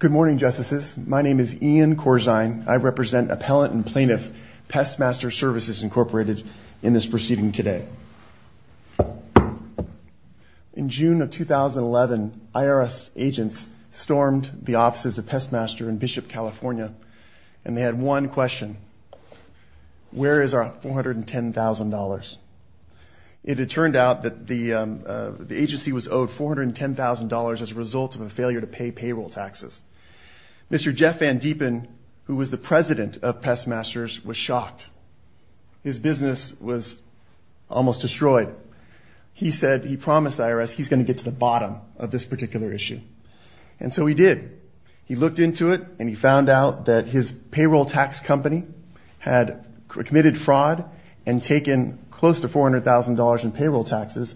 Good morning, Justices. My name is Ian Corzine. I represent Appellant and Plaintiff Pestmaster Services, Inc. in this proceeding today. In June of 2011, IRS agents stormed the offices of Pestmaster in Bishop, California, and they had one question. Where is our $410,000? It had turned out that the agency was owed $410,000 as a result of a failure to pay payroll taxes. Mr. Jeff Van Deepen, who was the president of Pestmasters, was shocked. His business was almost destroyed. He said he promised the IRS he's going to get to the bottom of this particular issue. And so he did. He looked into it, and he found out that his payroll tax company had committed fraud and taken close to $400,000 in payroll taxes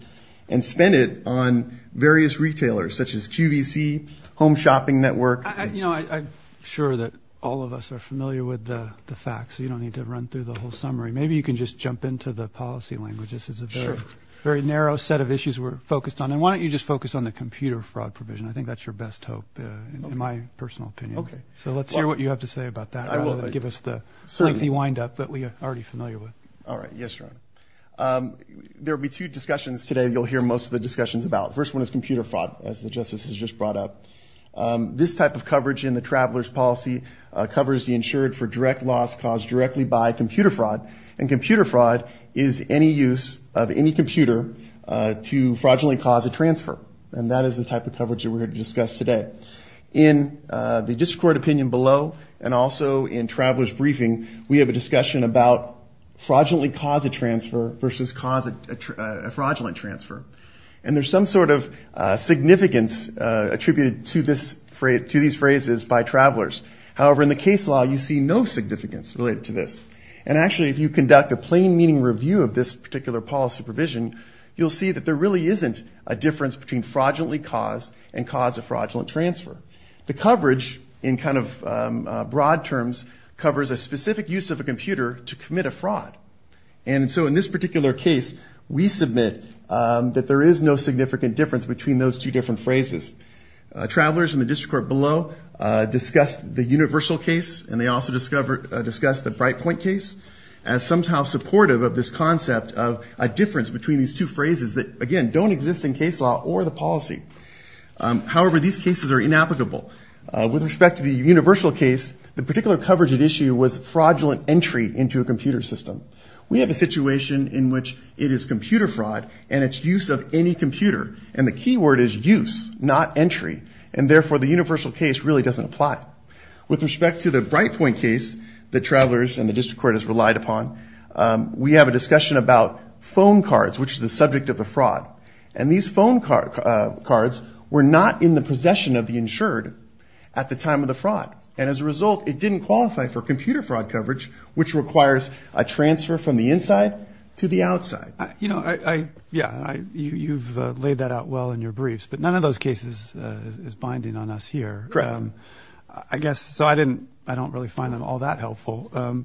and spent it on various retailers, such as QVC, Home Shopping Network. I'm sure that all of us are familiar with the facts, so you don't need to run through the whole summary. Maybe you can just jump into the policy language. This is a very narrow set of issues we're focused on. And why don't you just focus on the computer fraud provision? I think that's your best hope, in my personal opinion. Okay, so let's hear what you have to say about that, rather than give us the lengthy wind-up that we are already familiar with. All right, yes, Your Honor. There will be two discussions today that you'll hear most of the discussions about. The first one is computer fraud, as the Justice has just brought up. This type of coverage in the traveler's policy covers the insured for direct loss caused directly by computer fraud, and computer fraud is any use of any computer to fraudulently cause a transfer. And that is the type of coverage that we're going to discuss today. In the district court opinion below, and also in traveler's briefing, we have a discussion about fraudulently cause a transfer versus cause a fraudulent transfer. And there's some sort of significance attributed to these phrases by travelers. However, in the case law, you see no significance related to this. And actually, if you conduct a plain meaning review of this particular policy provision, you'll see that there really isn't a difference between fraudulently caused and cause a fraudulent transfer. The coverage in kind of broad terms covers a specific use of a computer to commit a fraud. And so in this particular case, we submit that there is no significant difference between those two different phrases. Travelers in the district court below discussed the universal case, and they also discussed the bright point case as somehow supportive of this concept of a difference between these two phrases that, again, don't exist in case law or the policy. However, these cases are inapplicable. With respect to the universal case, the particular coverage at issue was fraudulent entry into a computer system. We have a situation in which it is computer fraud and it's use of any computer. And the key word is use, not entry. And therefore, the universal case really doesn't apply. With respect to the bright point case that travelers in the district court has relied upon, we have a discussion about phone cards, which is the subject of the fraud. And these phone cards were not in the possession of the insured at the time of the fraud. And as a result, it didn't qualify for computer fraud coverage, which requires a transfer from the inside to the outside. You know, yeah, you've laid that out well in your briefs, but none of those cases is binding on us here. Correct. I guess, so I don't really find them all that helpful.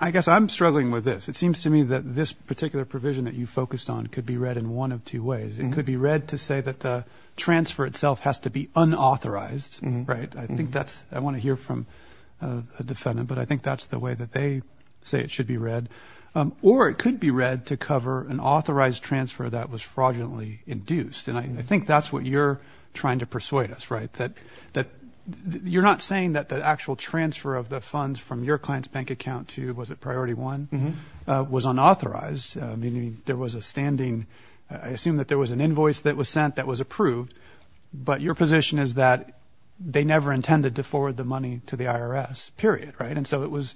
I guess I'm struggling with this. It seems to me that this particular provision that you focused on could be read in one of two ways. It could be read to say that the transfer itself has to be unauthorized, right? I think that's what I want to hear from a defendant, but I think that's the way that they say it should be read. Or it could be read to cover an authorized transfer that was fraudulently induced. And I think that's what you're trying to persuade us, right, that you're not saying that the actual transfer of the funds from your client's bank account to, was it priority one, was unauthorized, meaning there was a standing. I assume that there was an invoice that was sent that was approved, but your position is that they never intended to forward the money to the IRS, period, right? And so it was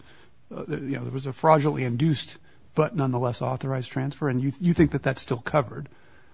a fraudulently induced but nonetheless authorized transfer, and you think that that's still covered.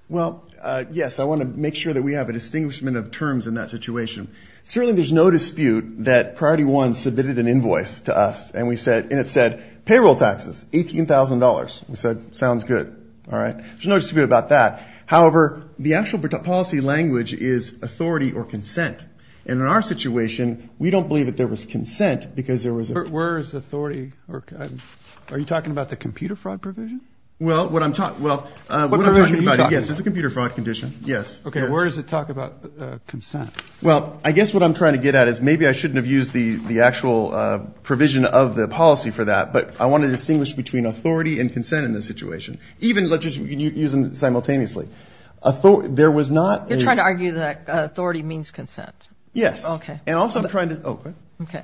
Well, yes, I want to make sure that we have a distinguishment of terms in that situation. Certainly there's no dispute that priority one submitted an invoice to us, and it said payroll taxes, $18,000. We said, sounds good, all right? There's no dispute about that. However, the actual policy language is authority or consent. And in our situation, we don't believe that there was consent because there was. Where is authority? Are you talking about the computer fraud provision? Well, what I'm talking about, yes, it's a computer fraud condition, yes. Okay, where does it talk about consent? Well, I guess what I'm trying to get at is maybe I shouldn't have used the actual provision of the policy for that, but I want to distinguish between authority and consent in this situation. Even let's just use them simultaneously. There was not a. You're trying to argue that authority means consent. Yes. Okay. And also I'm trying to. Okay. Okay.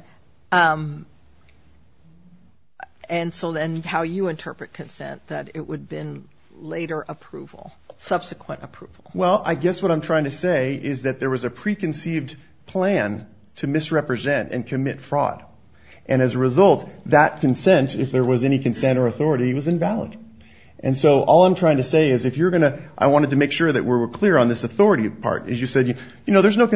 And so then how you interpret consent, that it would have been later approval, subsequent approval. Well, I guess what I'm trying to say is that there was a preconceived plan to misrepresent and commit fraud. And as a result, that consent, if there was any consent or authority, was invalid. And so all I'm trying to say is if you're going to. I wanted to make sure that we were clear on this authority part. As you said, you know, there's no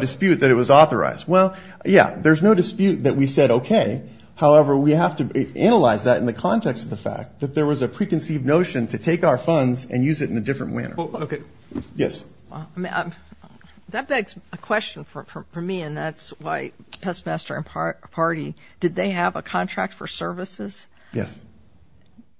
dispute that it was authorized. Well, yeah, there's no dispute that we said, okay. However, we have to analyze that in the context of the fact that there was a preconceived notion to take our funds and use it in a different manner. Okay. Yes. That begs a question for me, and that's why Pestmaster and Party, did they have a contract for services? Yes.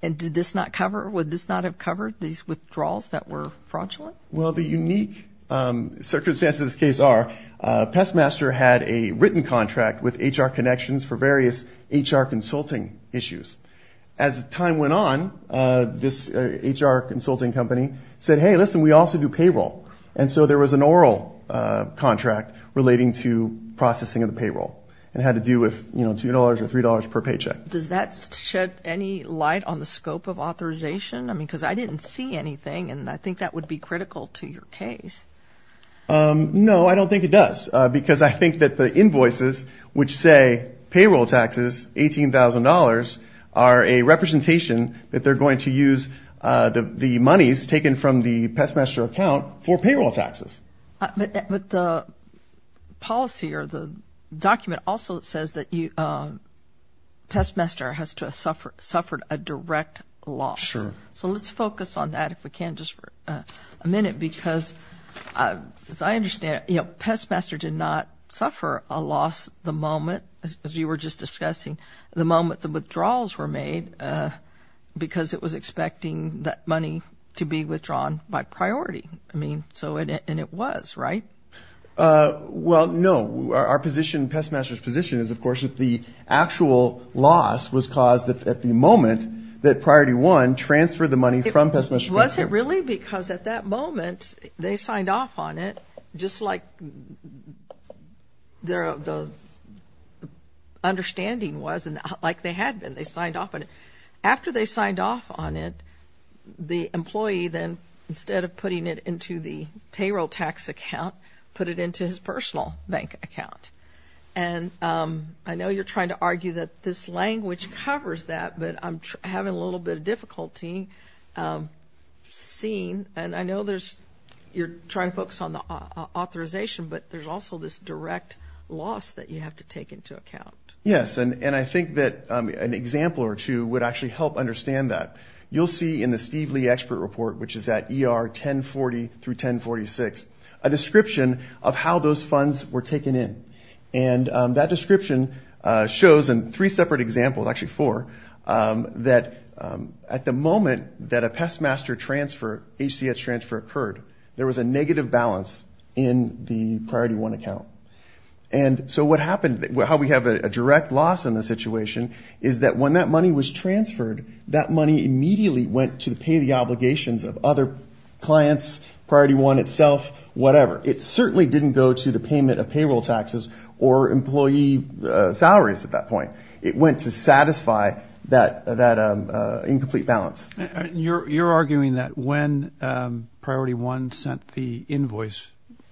And did this not cover, would this not have covered these withdrawals that were fraudulent? Well, the unique circumstances of this case are Pestmaster had a written contract with HR Connections for various HR consulting issues. As time went on, this HR consulting company said, hey, listen, we also do payroll. And so there was an oral contract relating to processing of the payroll. It had to do with, you know, $2 or $3 per paycheck. Does that shed any light on the scope of authorization? I mean, because I didn't see anything, and I think that would be critical to your case. No, I don't think it does, because I think that the invoices, which say payroll taxes, $18,000, are a representation that they're going to use the monies taken from the Pestmaster account for payroll taxes. But the policy or the document also says that Pestmaster has suffered a direct loss. Sure. So let's focus on that, if we can, just for a minute, because as I understand it, you know, Pestmaster did not suffer a loss the moment, as you were just discussing, the moment the withdrawals were made, because it was expecting that money to be withdrawn by priority. I mean, so, and it was, right? Well, no. Our position, Pestmaster's position is, of course, that the actual loss was caused at the moment that Priority 1 transferred the money from Pestmaster. Was it really? Because at that moment, they signed off on it just like the understanding was and like they had been. After they signed off on it, the employee then, instead of putting it into the payroll tax account, put it into his personal bank account. And I know you're trying to argue that this language covers that, but I'm having a little bit of difficulty seeing, and I know there's, you're trying to focus on the authorization, but there's also this direct loss that you have to take into account. Yes, and I think that an example or two would actually help understand that. You'll see in the Steve Lee Expert Report, which is at ER 1040 through 1046, a description of how those funds were taken in. And that description shows in three separate examples, actually four, that at the moment that a Pestmaster transfer, HCH transfer, occurred, there was a negative balance in the Priority 1 account. And so what happened, how we have a direct loss in the situation is that when that money was transferred, that money immediately went to pay the obligations of other clients, Priority 1 itself, whatever. It certainly didn't go to the payment of payroll taxes or employee salaries at that point. It went to satisfy that incomplete balance. You're arguing that when Priority 1 sent the invoice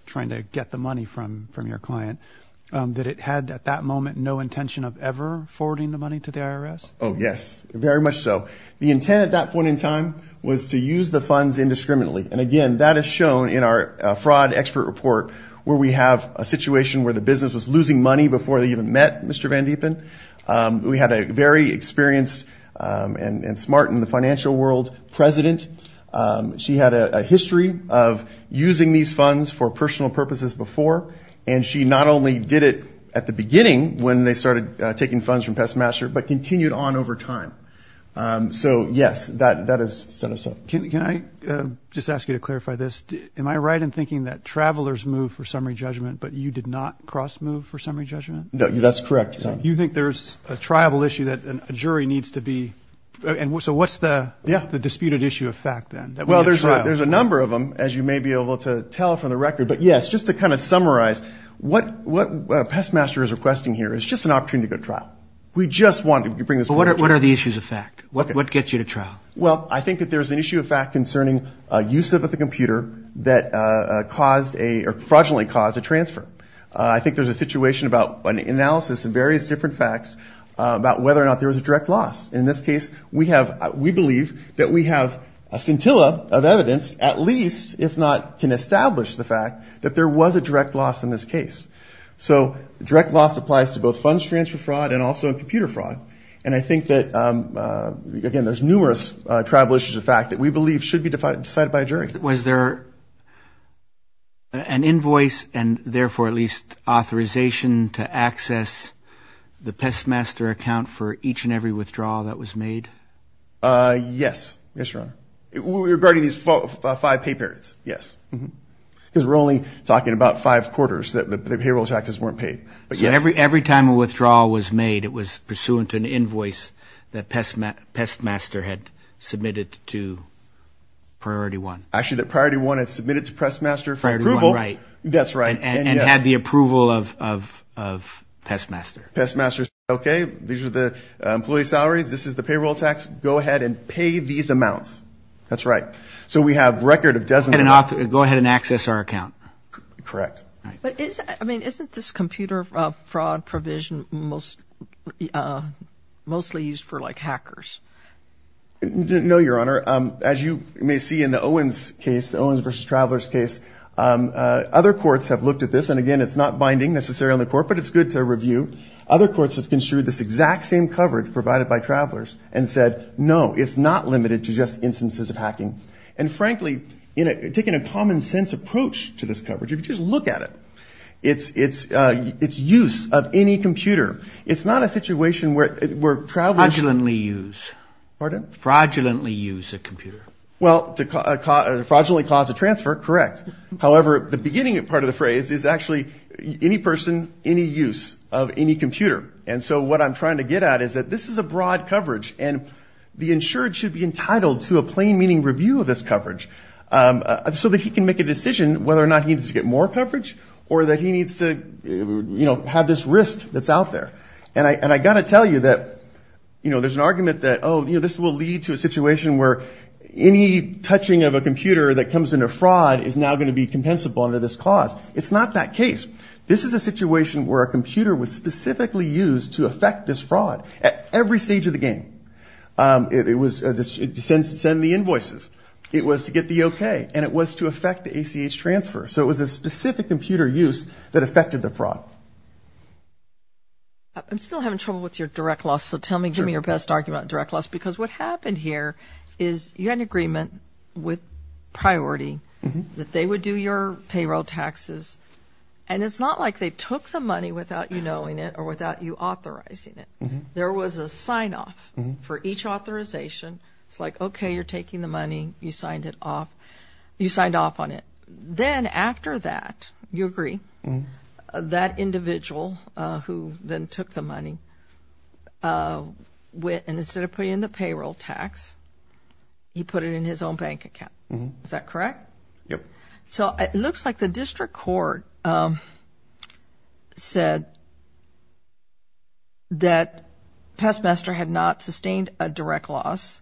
trying to get the money from your client, that it had at that moment no intention of ever forwarding the money to the IRS? Oh, yes, very much so. The intent at that point in time was to use the funds indiscriminately. And, again, that is shown in our Fraud Expert Report, where we have a situation where the business was losing money before they even met Mr. Van Diepen. We had a very experienced and smart in the financial world president. She had a history of using these funds for personal purposes before, and she not only did it at the beginning when they started taking funds from Pestmaster, but continued on over time. So, yes, that has set us up. Can I just ask you to clarify this? Am I right in thinking that travelers moved for summary judgment, but you did not cross-move for summary judgment? No, that's correct. You think there's a triable issue that a jury needs to be? So what's the disputed issue of fact then? Well, there's a number of them, as you may be able to tell from the record. But, yes, just to kind of summarize, what Pestmaster is requesting here is just an opportunity to go to trial. We just wanted to bring this forward. What are the issues of fact? What gets you to trial? Well, I think that there's an issue of fact concerning use of the computer that caused a or fraudulently caused a transfer. I think there's a situation about an analysis of various different facts about whether or not there was a direct loss. In this case, we believe that we have a scintilla of evidence, at least, if not can establish the fact that there was a direct loss in this case. So direct loss applies to both funds transfer fraud and also computer fraud. And I think that, again, there's numerous tribal issues of fact that we believe should be decided by a jury. Was there an invoice and, therefore, at least authorization to access the Pestmaster account for each and every withdrawal that was made? Yes. Yes, Your Honor. Regarding these five pay periods? Yes. Because we're only talking about five quarters that the payroll taxes weren't paid. Every time a withdrawal was made, it was pursuant to an invoice that Pestmaster had submitted to Priority One. Actually, that Priority One had submitted to Pestmaster for approval. Priority One, right. That's right. And had the approval of Pestmaster. Pestmaster said, okay, these are the employee salaries, this is the payroll tax, go ahead and pay these amounts. That's right. So we have a record of dozens and dozens. Go ahead and access our account. Correct. But, I mean, isn't this computer fraud provision mostly used for, like, hackers? No, Your Honor. As you may see in the Owens case, the Owens v. Travelers case, other courts have looked at this. And, again, it's not binding necessarily on the court, but it's good to review. Other courts have construed this exact same coverage provided by Travelers and said, no, it's not limited to just instances of hacking. And, frankly, taking a common sense approach to this coverage, if you just look at it, it's use of any computer. It's not a situation where Travelers. Fraudulently use. Pardon? Fraudulently use a computer. Well, to fraudulently cause a transfer, correct. However, the beginning part of the phrase is actually any person, any use of any computer. And so what I'm trying to get at is that this is a broad coverage, and the insured should be entitled to a plain meaning review of this coverage. So that he can make a decision whether or not he needs to get more coverage or that he needs to, you know, have this risk that's out there. And I got to tell you that, you know, there's an argument that, oh, you know, this will lead to a situation where any touching of a computer that comes into fraud is now going to be compensable under this clause. It's not that case. This is a situation where a computer was specifically used to affect this fraud at every stage of the game. It was to send the invoices. It was to get the okay. And it was to affect the ACH transfer. So it was a specific computer use that affected the fraud. I'm still having trouble with your direct loss. So tell me, give me your best argument on direct loss. Because what happened here is you had an agreement with priority that they would do your payroll taxes. And it's not like they took the money without you knowing it or without you authorizing it. There was a sign-off for each authorization. It's like, okay, you're taking the money. You signed it off. You signed off on it. Then after that, you agree, that individual who then took the money went and instead of putting in the payroll tax, he put it in his own bank account. Is that correct? Yep. So it looks like the district court said that PestMester had not sustained a direct loss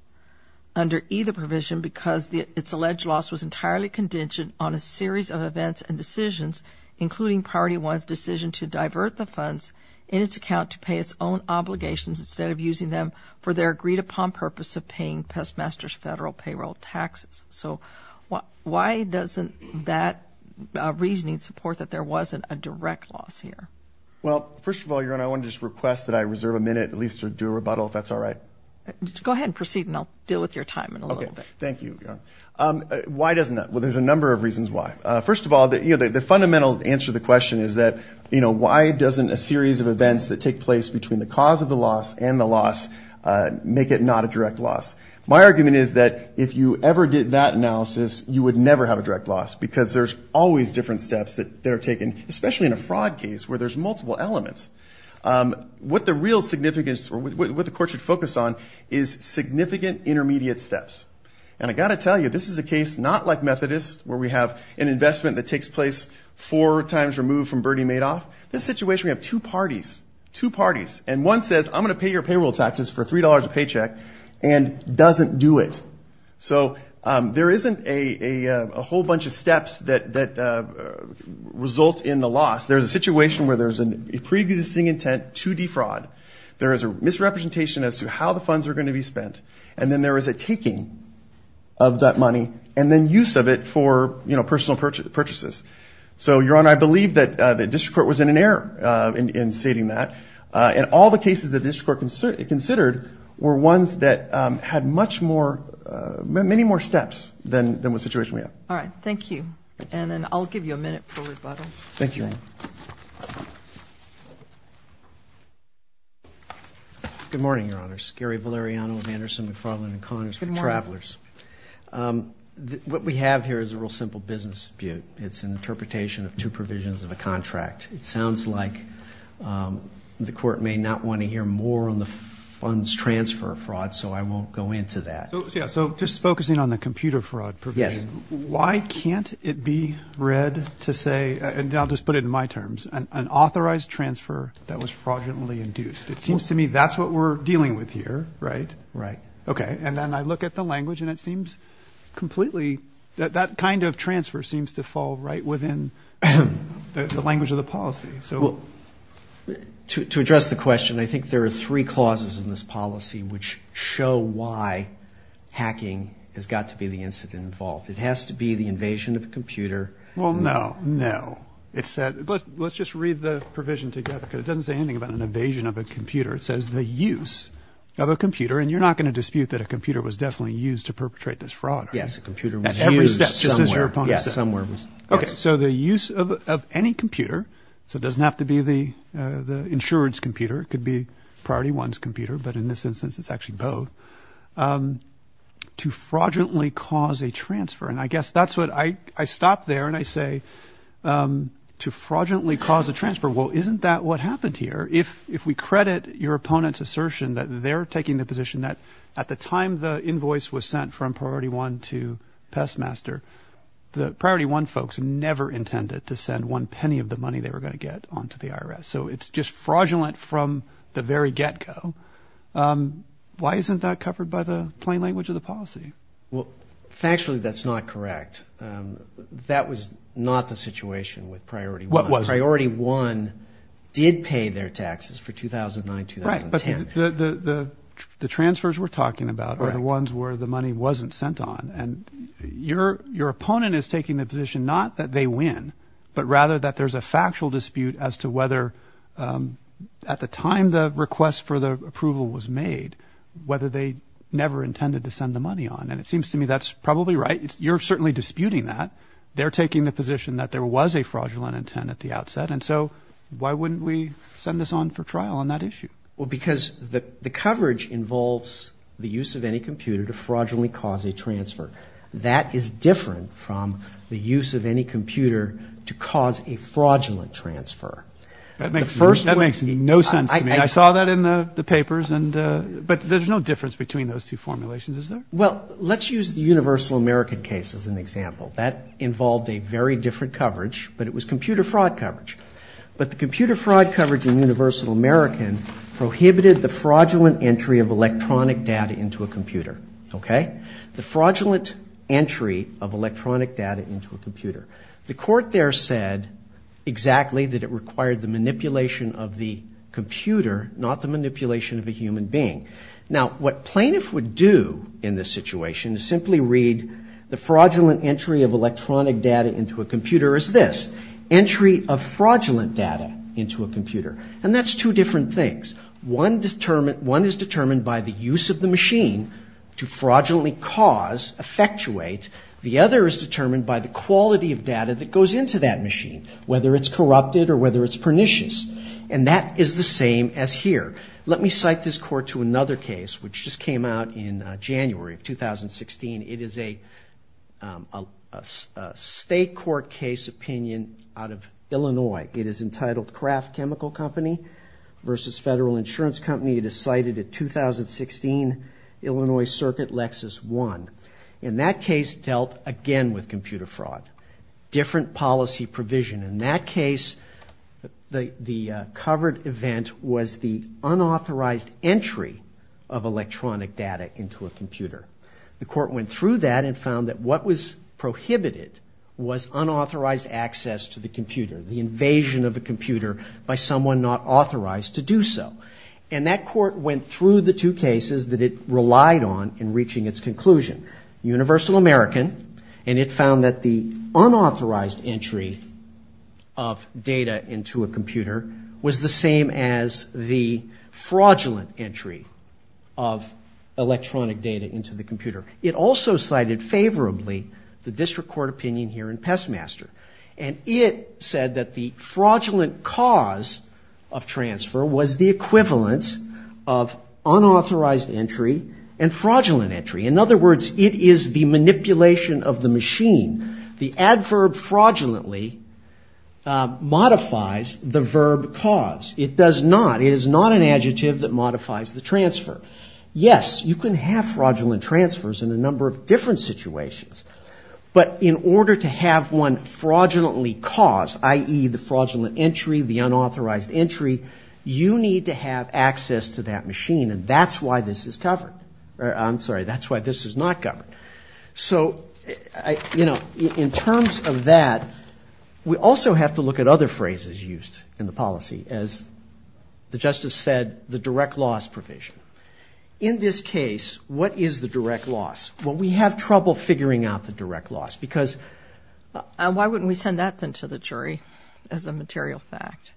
under either provision because its alleged loss was entirely contingent on a series of events and decisions, including priority one's decision to divert the funds in its account to pay its own obligations instead of using them for their agreed-upon purpose of paying PestMester's federal payroll taxes. So why doesn't that reasoning support that there wasn't a direct loss here? Well, first of all, Your Honor, I want to just request that I reserve a minute at least to do a rebuttal if that's all right. Go ahead and proceed, and I'll deal with your time in a little bit. Thank you, Your Honor. Why doesn't that? Well, there's a number of reasons why. First of all, the fundamental answer to the question is that, you know, why doesn't a series of events that take place between the cause of the loss and the loss make it not a direct loss? My argument is that if you ever did that analysis, you would never have a direct loss because there's always different steps that are taken, especially in a fraud case where there's multiple elements. What the real significance or what the court should focus on is significant intermediate steps. And I've got to tell you, this is a case not like Methodist, where we have an investment that takes place four times removed from Bernie Madoff. This situation, we have two parties, two parties, and one says, I'm going to pay your payroll taxes for $3 a paycheck and doesn't do it. So there isn't a whole bunch of steps that result in the loss. There's a situation where there's a preexisting intent to defraud. There is a misrepresentation as to how the funds are going to be spent. And then there is a taking of that money and then use of it for, you know, personal purchases. So, Your Honor, I believe that the district court was in an error in stating that. And all the cases the district court considered were ones that had much more, many more steps than the situation we have. All right, thank you. And then I'll give you a minute for rebuttal. Thank you. Good morning, Your Honors. Gary Valeriano of Anderson McFarland & Connors for Travelers. Good morning. What we have here is a real simple business dispute. It's an interpretation of two provisions of a contract. It sounds like the court may not want to hear more on the funds transfer fraud, so I won't go into that. Yeah, so just focusing on the computer fraud provision. Yes. Why can't it be read to say, and I'll just put it in my terms, an authorized transfer that was fraudulently induced? It seems to me that's what we're dealing with here, right? Right. Okay. And then I look at the language and it seems completely, that kind of transfer seems to fall right within the language of the policy. To address the question, I think there are three clauses in this policy which show why hacking has got to be the incident involved. It has to be the invasion of a computer. Well, no. No. Let's just read the provision together because it doesn't say anything about an invasion of a computer. It says the use of a computer, and you're not going to dispute that a computer was definitely used to perpetrate this fraud, right? Yes, a computer was used somewhere. At every step. Yes, somewhere. Okay. So the use of any computer, so it doesn't have to be the insurance computer, it could be Priority 1's computer, but in this instance it's actually both, to fraudulently cause a transfer. And I guess that's what I stop there and I say to fraudulently cause a transfer. Well, isn't that what happened here? If we credit your opponent's assertion that they're taking the position that at the time the invoice was sent from Priority 1 to Pestmaster, the Priority 1 folks never intended to send one penny of the money they were going to get onto the IRS. So it's just fraudulent from the very get-go. Why isn't that covered by the plain language of the policy? Well, factually that's not correct. That was not the situation with Priority 1. It wasn't. Priority 1 did pay their taxes for 2009-2010. Right, but the transfers we're talking about are the ones where the money wasn't sent on. And your opponent is taking the position not that they win, but rather that there's a factual dispute as to whether at the time the request for the approval was made, whether they never intended to send the money on. And it seems to me that's probably right. You're certainly disputing that. They're taking the position that there was a fraudulent intent at the outset. And so why wouldn't we send this on for trial on that issue? Well, because the coverage involves the use of any computer to fraudulently cause a transfer. That is different from the use of any computer to cause a fraudulent transfer. That makes no sense to me. I saw that in the papers. But there's no difference between those two formulations, is there? Well, let's use the Universal American case as an example. That involved a very different coverage, but it was computer fraud coverage. But the computer fraud coverage in Universal American prohibited the fraudulent entry of electronic data into a computer. Okay? The fraudulent entry of electronic data into a computer. The court there said exactly that it required the manipulation of the computer, not the manipulation of a human being. Now, what plaintiffs would do in this situation is simply read the fraudulent entry of electronic data into a computer as this. Entry of fraudulent data into a computer. And that's two different things. One is determined by the use of the machine to fraudulently cause, effectuate. The other is determined by the quality of data that goes into that machine, whether it's corrupted or whether it's pernicious. And that is the same as here. Let me cite this court to another case, which just came out in January of 2016. It is a state court case opinion out of Illinois. It is entitled Kraft Chemical Company versus Federal Insurance Company. It is cited at 2016 Illinois Circuit, Lexus 1. And that case dealt again with computer fraud. Different policy provision. In that case, the covered event was the unauthorized entry of electronic data into a computer. The court went through that and found that what was prohibited was unauthorized access to the computer. The invasion of a computer by someone not authorized to do so. And that court went through the two cases that it relied on in reaching its conclusion. Universal American. And it found that the unauthorized entry of data into a computer was the same as the fraudulent entry of electronic data into the computer. It also cited favorably the district court opinion here in Pestmaster. And it said that the fraudulent cause of transfer was the equivalent of unauthorized entry and fraudulent entry. In other words, it is the manipulation of the machine. The adverb fraudulently modifies the verb cause. It does not. It is not an adjective that modifies the transfer. Yes, you can have fraudulent transfers in a number of different situations. But in order to have one fraudulently caused, i.e., the fraudulent entry, the unauthorized entry, you need to have access to that machine. And that's why this is covered. I'm sorry. That's why this is not covered. So, you know, in terms of that, we also have to look at other phrases used in the policy. As the Justice said, the direct loss provision. In this case, what is the direct loss? Well, we have trouble figuring out the direct loss. Because why wouldn't we send that then to the jury as a material fact?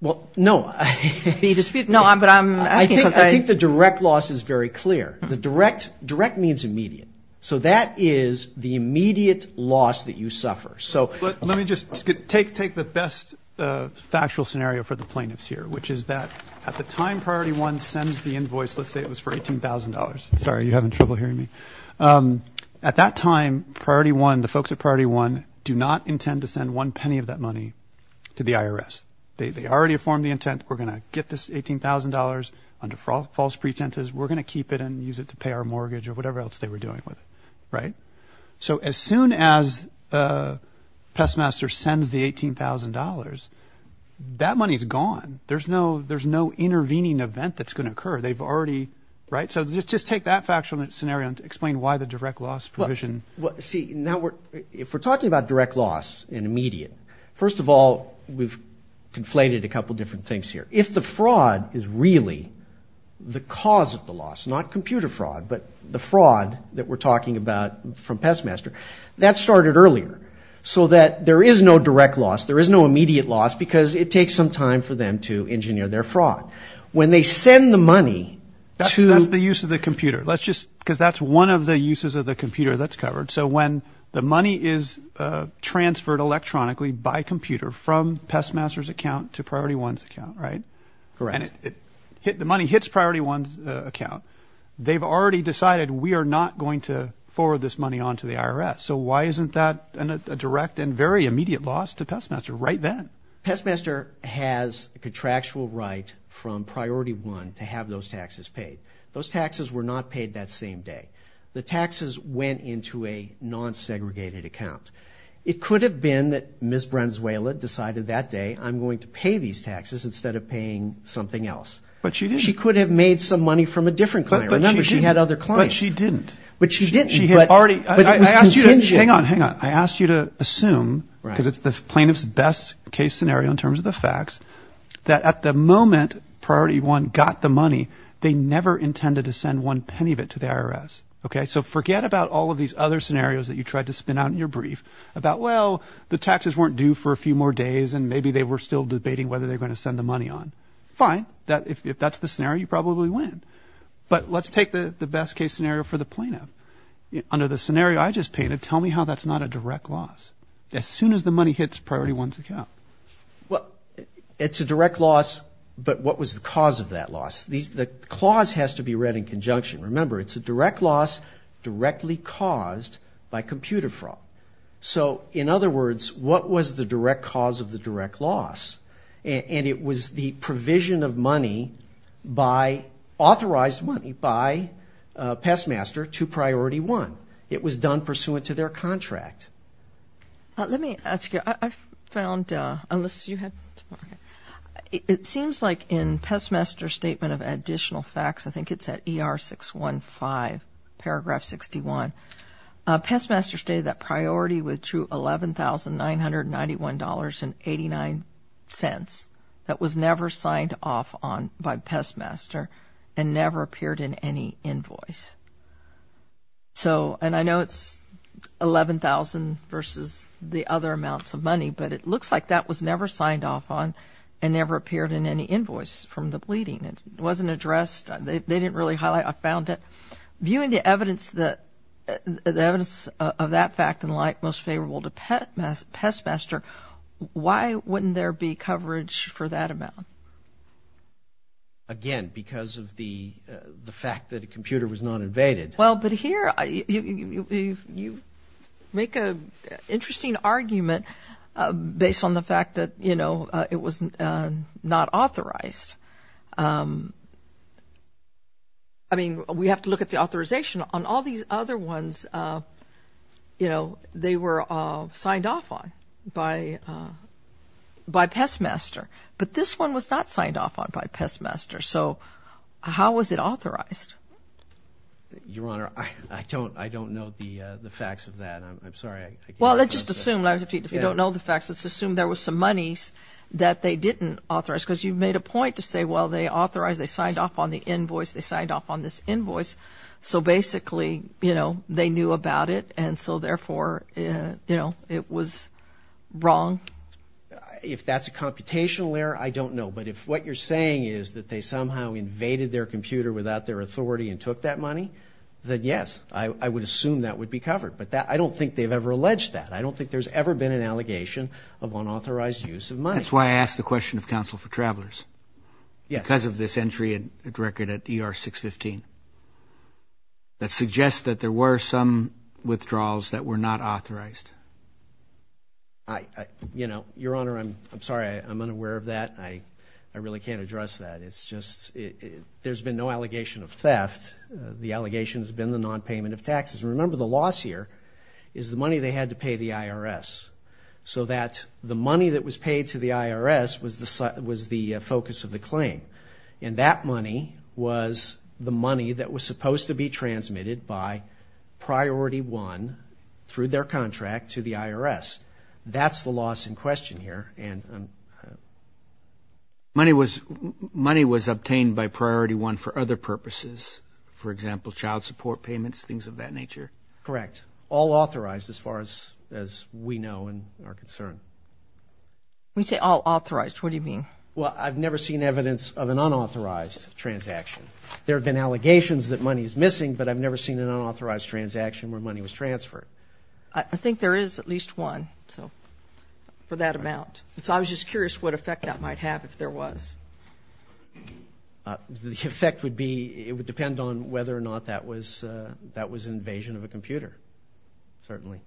Well, no. No, but I'm asking because I... I think the direct loss is very clear. The direct means immediate. So that is the immediate loss that you suffer. So... Let me just take the best factual scenario for the plaintiffs here, which is that at the time Priority 1 sends the invoice, let's say it was for $18,000. Sorry, you're having trouble hearing me. At that time, Priority 1, the folks at Priority 1 do not intend to send one penny of that money to the IRS. They already have formed the intent. We're going to get this $18,000 under false pretenses. We're going to keep it and use it to pay our mortgage or whatever else they were doing with it, right? So as soon as Pestmaster sends the $18,000, that money is gone. There's no intervening event that's going to occur. They've already... Right? So just take that factual scenario and explain why the direct loss provision. Well, see, if we're talking about direct loss and immediate, first of all, we've conflated a couple different things here. If the fraud is really the cause of the loss, not computer fraud, but the fraud that we're talking about from Pestmaster, that started earlier. So that there is no direct loss. There is no immediate loss because it takes some time for them to engineer their fraud. When they send the money to... That's the use of the computer. Let's just... Because that's one of the uses of the computer that's covered. So when the money is transferred electronically by computer from Pestmaster's account to Priority 1's account, right? Correct. And the money hits Priority 1's account, they've already decided we are not going to forward this money on to the IRS. So why isn't that a direct and very immediate loss to Pestmaster right then? Pestmaster has a contractual right from Priority 1 to have those taxes paid. Those taxes were not paid that same day. The taxes went into a non-segregated account. It could have been that Ms. Branzuela decided that day, I'm going to pay these taxes instead of paying something else. But she didn't. She could have made some money from a different client. Remember, she had other clients. But she didn't. But she didn't. She had already... But it was contingent. Hang on, hang on. I asked you to assume because it's the plaintiff's best case scenario in terms of the facts, that at the moment Priority 1 got the money, they never intended to send one penny of it to the IRS. Okay? So forget about all of these other scenarios that you tried to spin out in your brief about, well, the taxes weren't due for a few more days and maybe they were still debating whether they were going to send the money on. Fine. If that's the scenario, you probably win. But let's take the best case scenario for the plaintiff. Under the scenario I just painted, tell me how that's not a direct loss. As soon as the money hits Priority 1's account. Well, it's a direct loss, but what was the cause of that loss? The clause has to be read in conjunction. Remember, it's a direct loss directly caused by computer fraud. So, in other words, what was the direct cause of the direct loss? And it was the provision of money, authorized money, by Pestmaster to Priority 1. It was done pursuant to their contract. Let me ask you. I found, unless you had more. It seems like in Pestmaster's statement of additional facts, I think it's at ER615, paragraph 61, Pestmaster stated that Priority withdrew $11,991.89. That was never signed off on by Pestmaster and never appeared in any invoice. So, and I know it's $11,000 versus the other amounts of money, but it looks like that was never signed off on and never appeared in any invoice from the pleading. It wasn't addressed. They didn't really highlight. I found it. Viewing the evidence of that fact and the like most favorable to Pestmaster, why wouldn't there be coverage for that amount? Again, because of the fact that a computer was not invaded. Well, but here you make an interesting argument based on the fact that, you know, it was not authorized. I mean, we have to look at the authorization. On all these other ones, you know, they were signed off on by Pestmaster, but this one was not signed off on by Pestmaster. So how was it authorized? Your Honor, I don't know the facts of that. I'm sorry. Well, let's just assume, if you don't know the facts, let's assume there was some monies that they didn't authorize because you made a point to say, well, they authorized, they signed off on the invoice, they signed off on this invoice. So basically, you know, they knew about it, and so therefore, you know, it was wrong. If that's a computational error, I don't know. But if what you're saying is that they somehow invaded their computer without their authority and took that money, then yes, I would assume that would be covered. But I don't think they've ever alleged that. I don't think there's ever been an allegation of unauthorized use of money. That's why I asked the question of Counsel for Travelers. Yes. Because of this entry at record at ER 615 that suggests that there were some withdrawals that were not authorized. You know, Your Honor, I'm sorry. I'm unaware of that. I really can't address that. It's just there's been no allegation of theft. The allegation has been the nonpayment of taxes. Remember, the loss here is the money they had to pay the IRS, so that the money that was paid to the IRS was the focus of the claim. And that money was the money that was supposed to be transmitted by Priority 1 through their contract to the IRS. That's the loss in question here. Money was obtained by Priority 1 for other purposes, for example, child support payments, things of that nature? Correct. All authorized as far as we know and are concerned. We say all authorized. What do you mean? Well, I've never seen evidence of an unauthorized transaction. There have been allegations that money is missing, but I've never seen an unauthorized transaction where money was transferred. I think there is at least one for that amount. So I was just curious what effect that might have if there was. The effect would be it would depend on whether or not that was an invasion of a computer, certainly.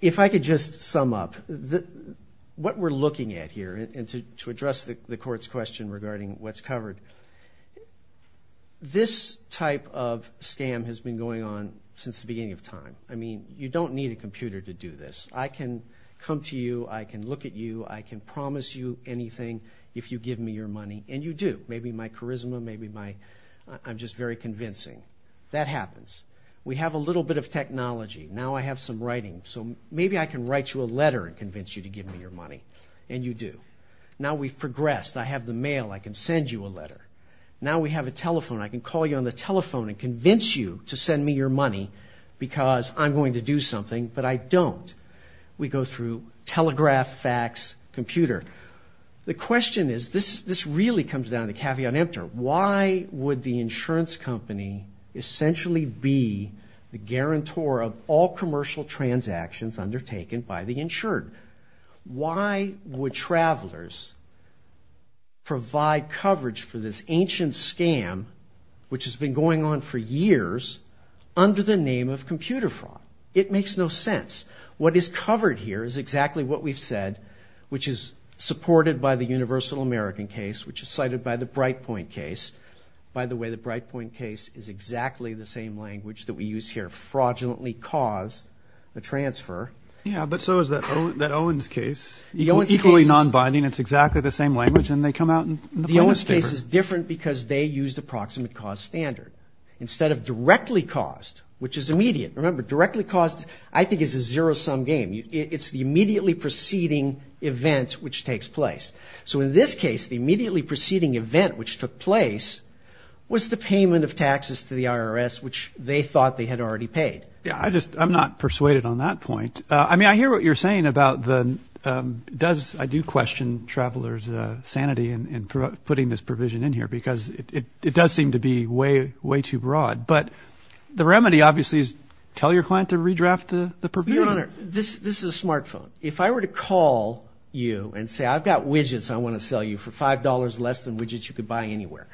If I could just sum up, what we're looking at here, and to address the Court's question regarding what's covered, this type of scam has been going on since the beginning of time. I mean, you don't need a computer to do this. I can come to you. I can look at you. I can promise you anything if you give me your money, and you do. Maybe my charisma, maybe my I'm just very convincing. That happens. We have a little bit of technology. Now I have some writing, so maybe I can write you a letter and convince you to give me your money, and you do. Now we've progressed. I have the mail. I can send you a letter. Now we have a telephone. I can call you on the telephone and convince you to send me your money because I'm going to do something, but I don't. We go through telegraph, fax, computer. The question is, this really comes down to caveat emptor. Why would the insurance company essentially be the guarantor of all commercial transactions undertaken by the insured? Why would travelers provide coverage for this ancient scam, which has been going on for years, under the name of computer fraud? It makes no sense. What is covered here is exactly what we've said, which is supported by the Universal American case, which is cited by the Brightpoint case. By the way, the Brightpoint case is exactly the same language that we use here, fraudulently cause a transfer. Yeah, but so is that Owens case, equally nonbinding. It's exactly the same language, and they come out in the plaintiff's paper. The Owens case is different because they used approximate cost standard instead of directly cost, which is immediate. Remember, directly cost, I think, is a zero-sum game. It's the immediately preceding event which takes place. So in this case, the immediately preceding event which took place was the payment of taxes to the IRS, which they thought they had already paid. Yeah, I just, I'm not persuaded on that point. I mean, I hear what you're saying about the, does, I do question travelers' sanity in putting this provision in here because it does seem to be way, way too broad. But the remedy, obviously, is tell your client to redraft the provision. Your Honor, this is a smartphone. If I were to call you and say, I've got widgets I want to sell you for $5 less than widgets you could buy anywhere,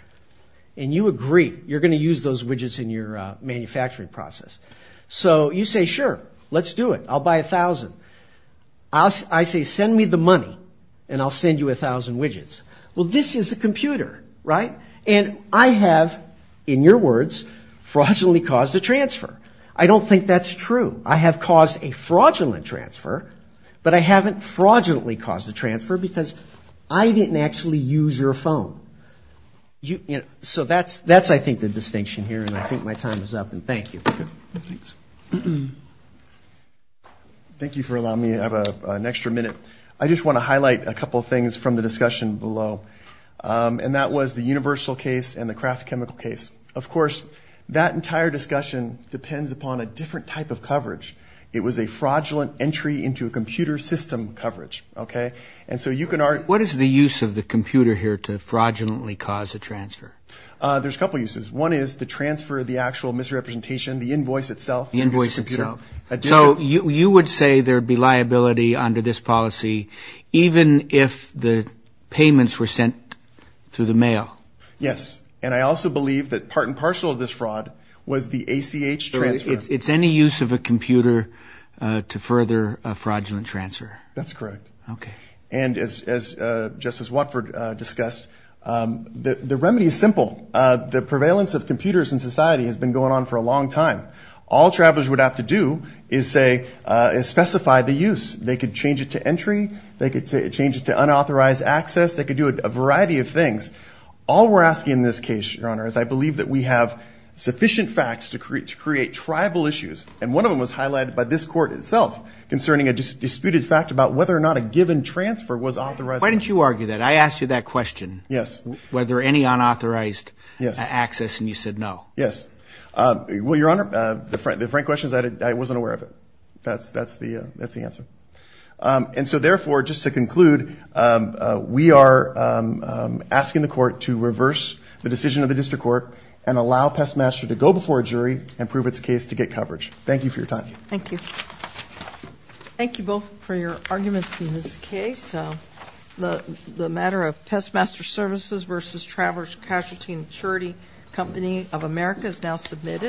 and you agree you're going to use those widgets in your manufacturing process. So you say, sure, let's do it. I'll buy 1,000. I say, send me the money, and I'll send you 1,000 widgets. Well, this is a computer, right? And I have, in your words, fraudulently caused a transfer. I don't think that's true. I have caused a fraudulent transfer, but I haven't fraudulently caused a transfer because I didn't actually use your phone. So that's, I think, the distinction here, and I think my time is up, and thank you. Thank you for allowing me to have an extra minute. I just want to highlight a couple of things from the discussion below, and that was the universal case and the Kraft chemical case. Of course, that entire discussion depends upon a different type of coverage. It was a fraudulent entry into a computer system coverage, okay? And so you can argue. What is the use of the computer here to fraudulently cause a transfer? There's a couple uses. One is the transfer of the actual misrepresentation, the invoice itself. The invoice itself. So you would say there would be liability under this policy even if the payments were sent through the mail? Yes, and I also believe that part and parcel of this fraud was the ACH transfer. So it's any use of a computer to further a fraudulent transfer? That's correct. Okay. And as Justice Watford discussed, the remedy is simple. The prevalence of computers in society has been going on for a long time. All travelers would have to do is specify the use. They could change it to entry. They could change it to unauthorized access. They could do a variety of things. All we're asking in this case, Your Honor, is I believe that we have sufficient facts to create tribal issues, and one of them was highlighted by this Court itself concerning a disputed fact about whether or not a given transfer was authorized. Why didn't you argue that? I asked you that question. Yes. Was there any unauthorized access, and you said no? Yes. Well, Your Honor, the frank question is I wasn't aware of it. That's the answer. And so, therefore, just to conclude, we are asking the Court to reverse the decision of the District Court and allow Pestmaster to go before a jury and prove its case to get coverage. Thank you for your time. Thank you. Thank you both for your arguments in this case. The matter of Pestmaster Services v. Traveler's Casualty and Assurity Company of America is now submitted.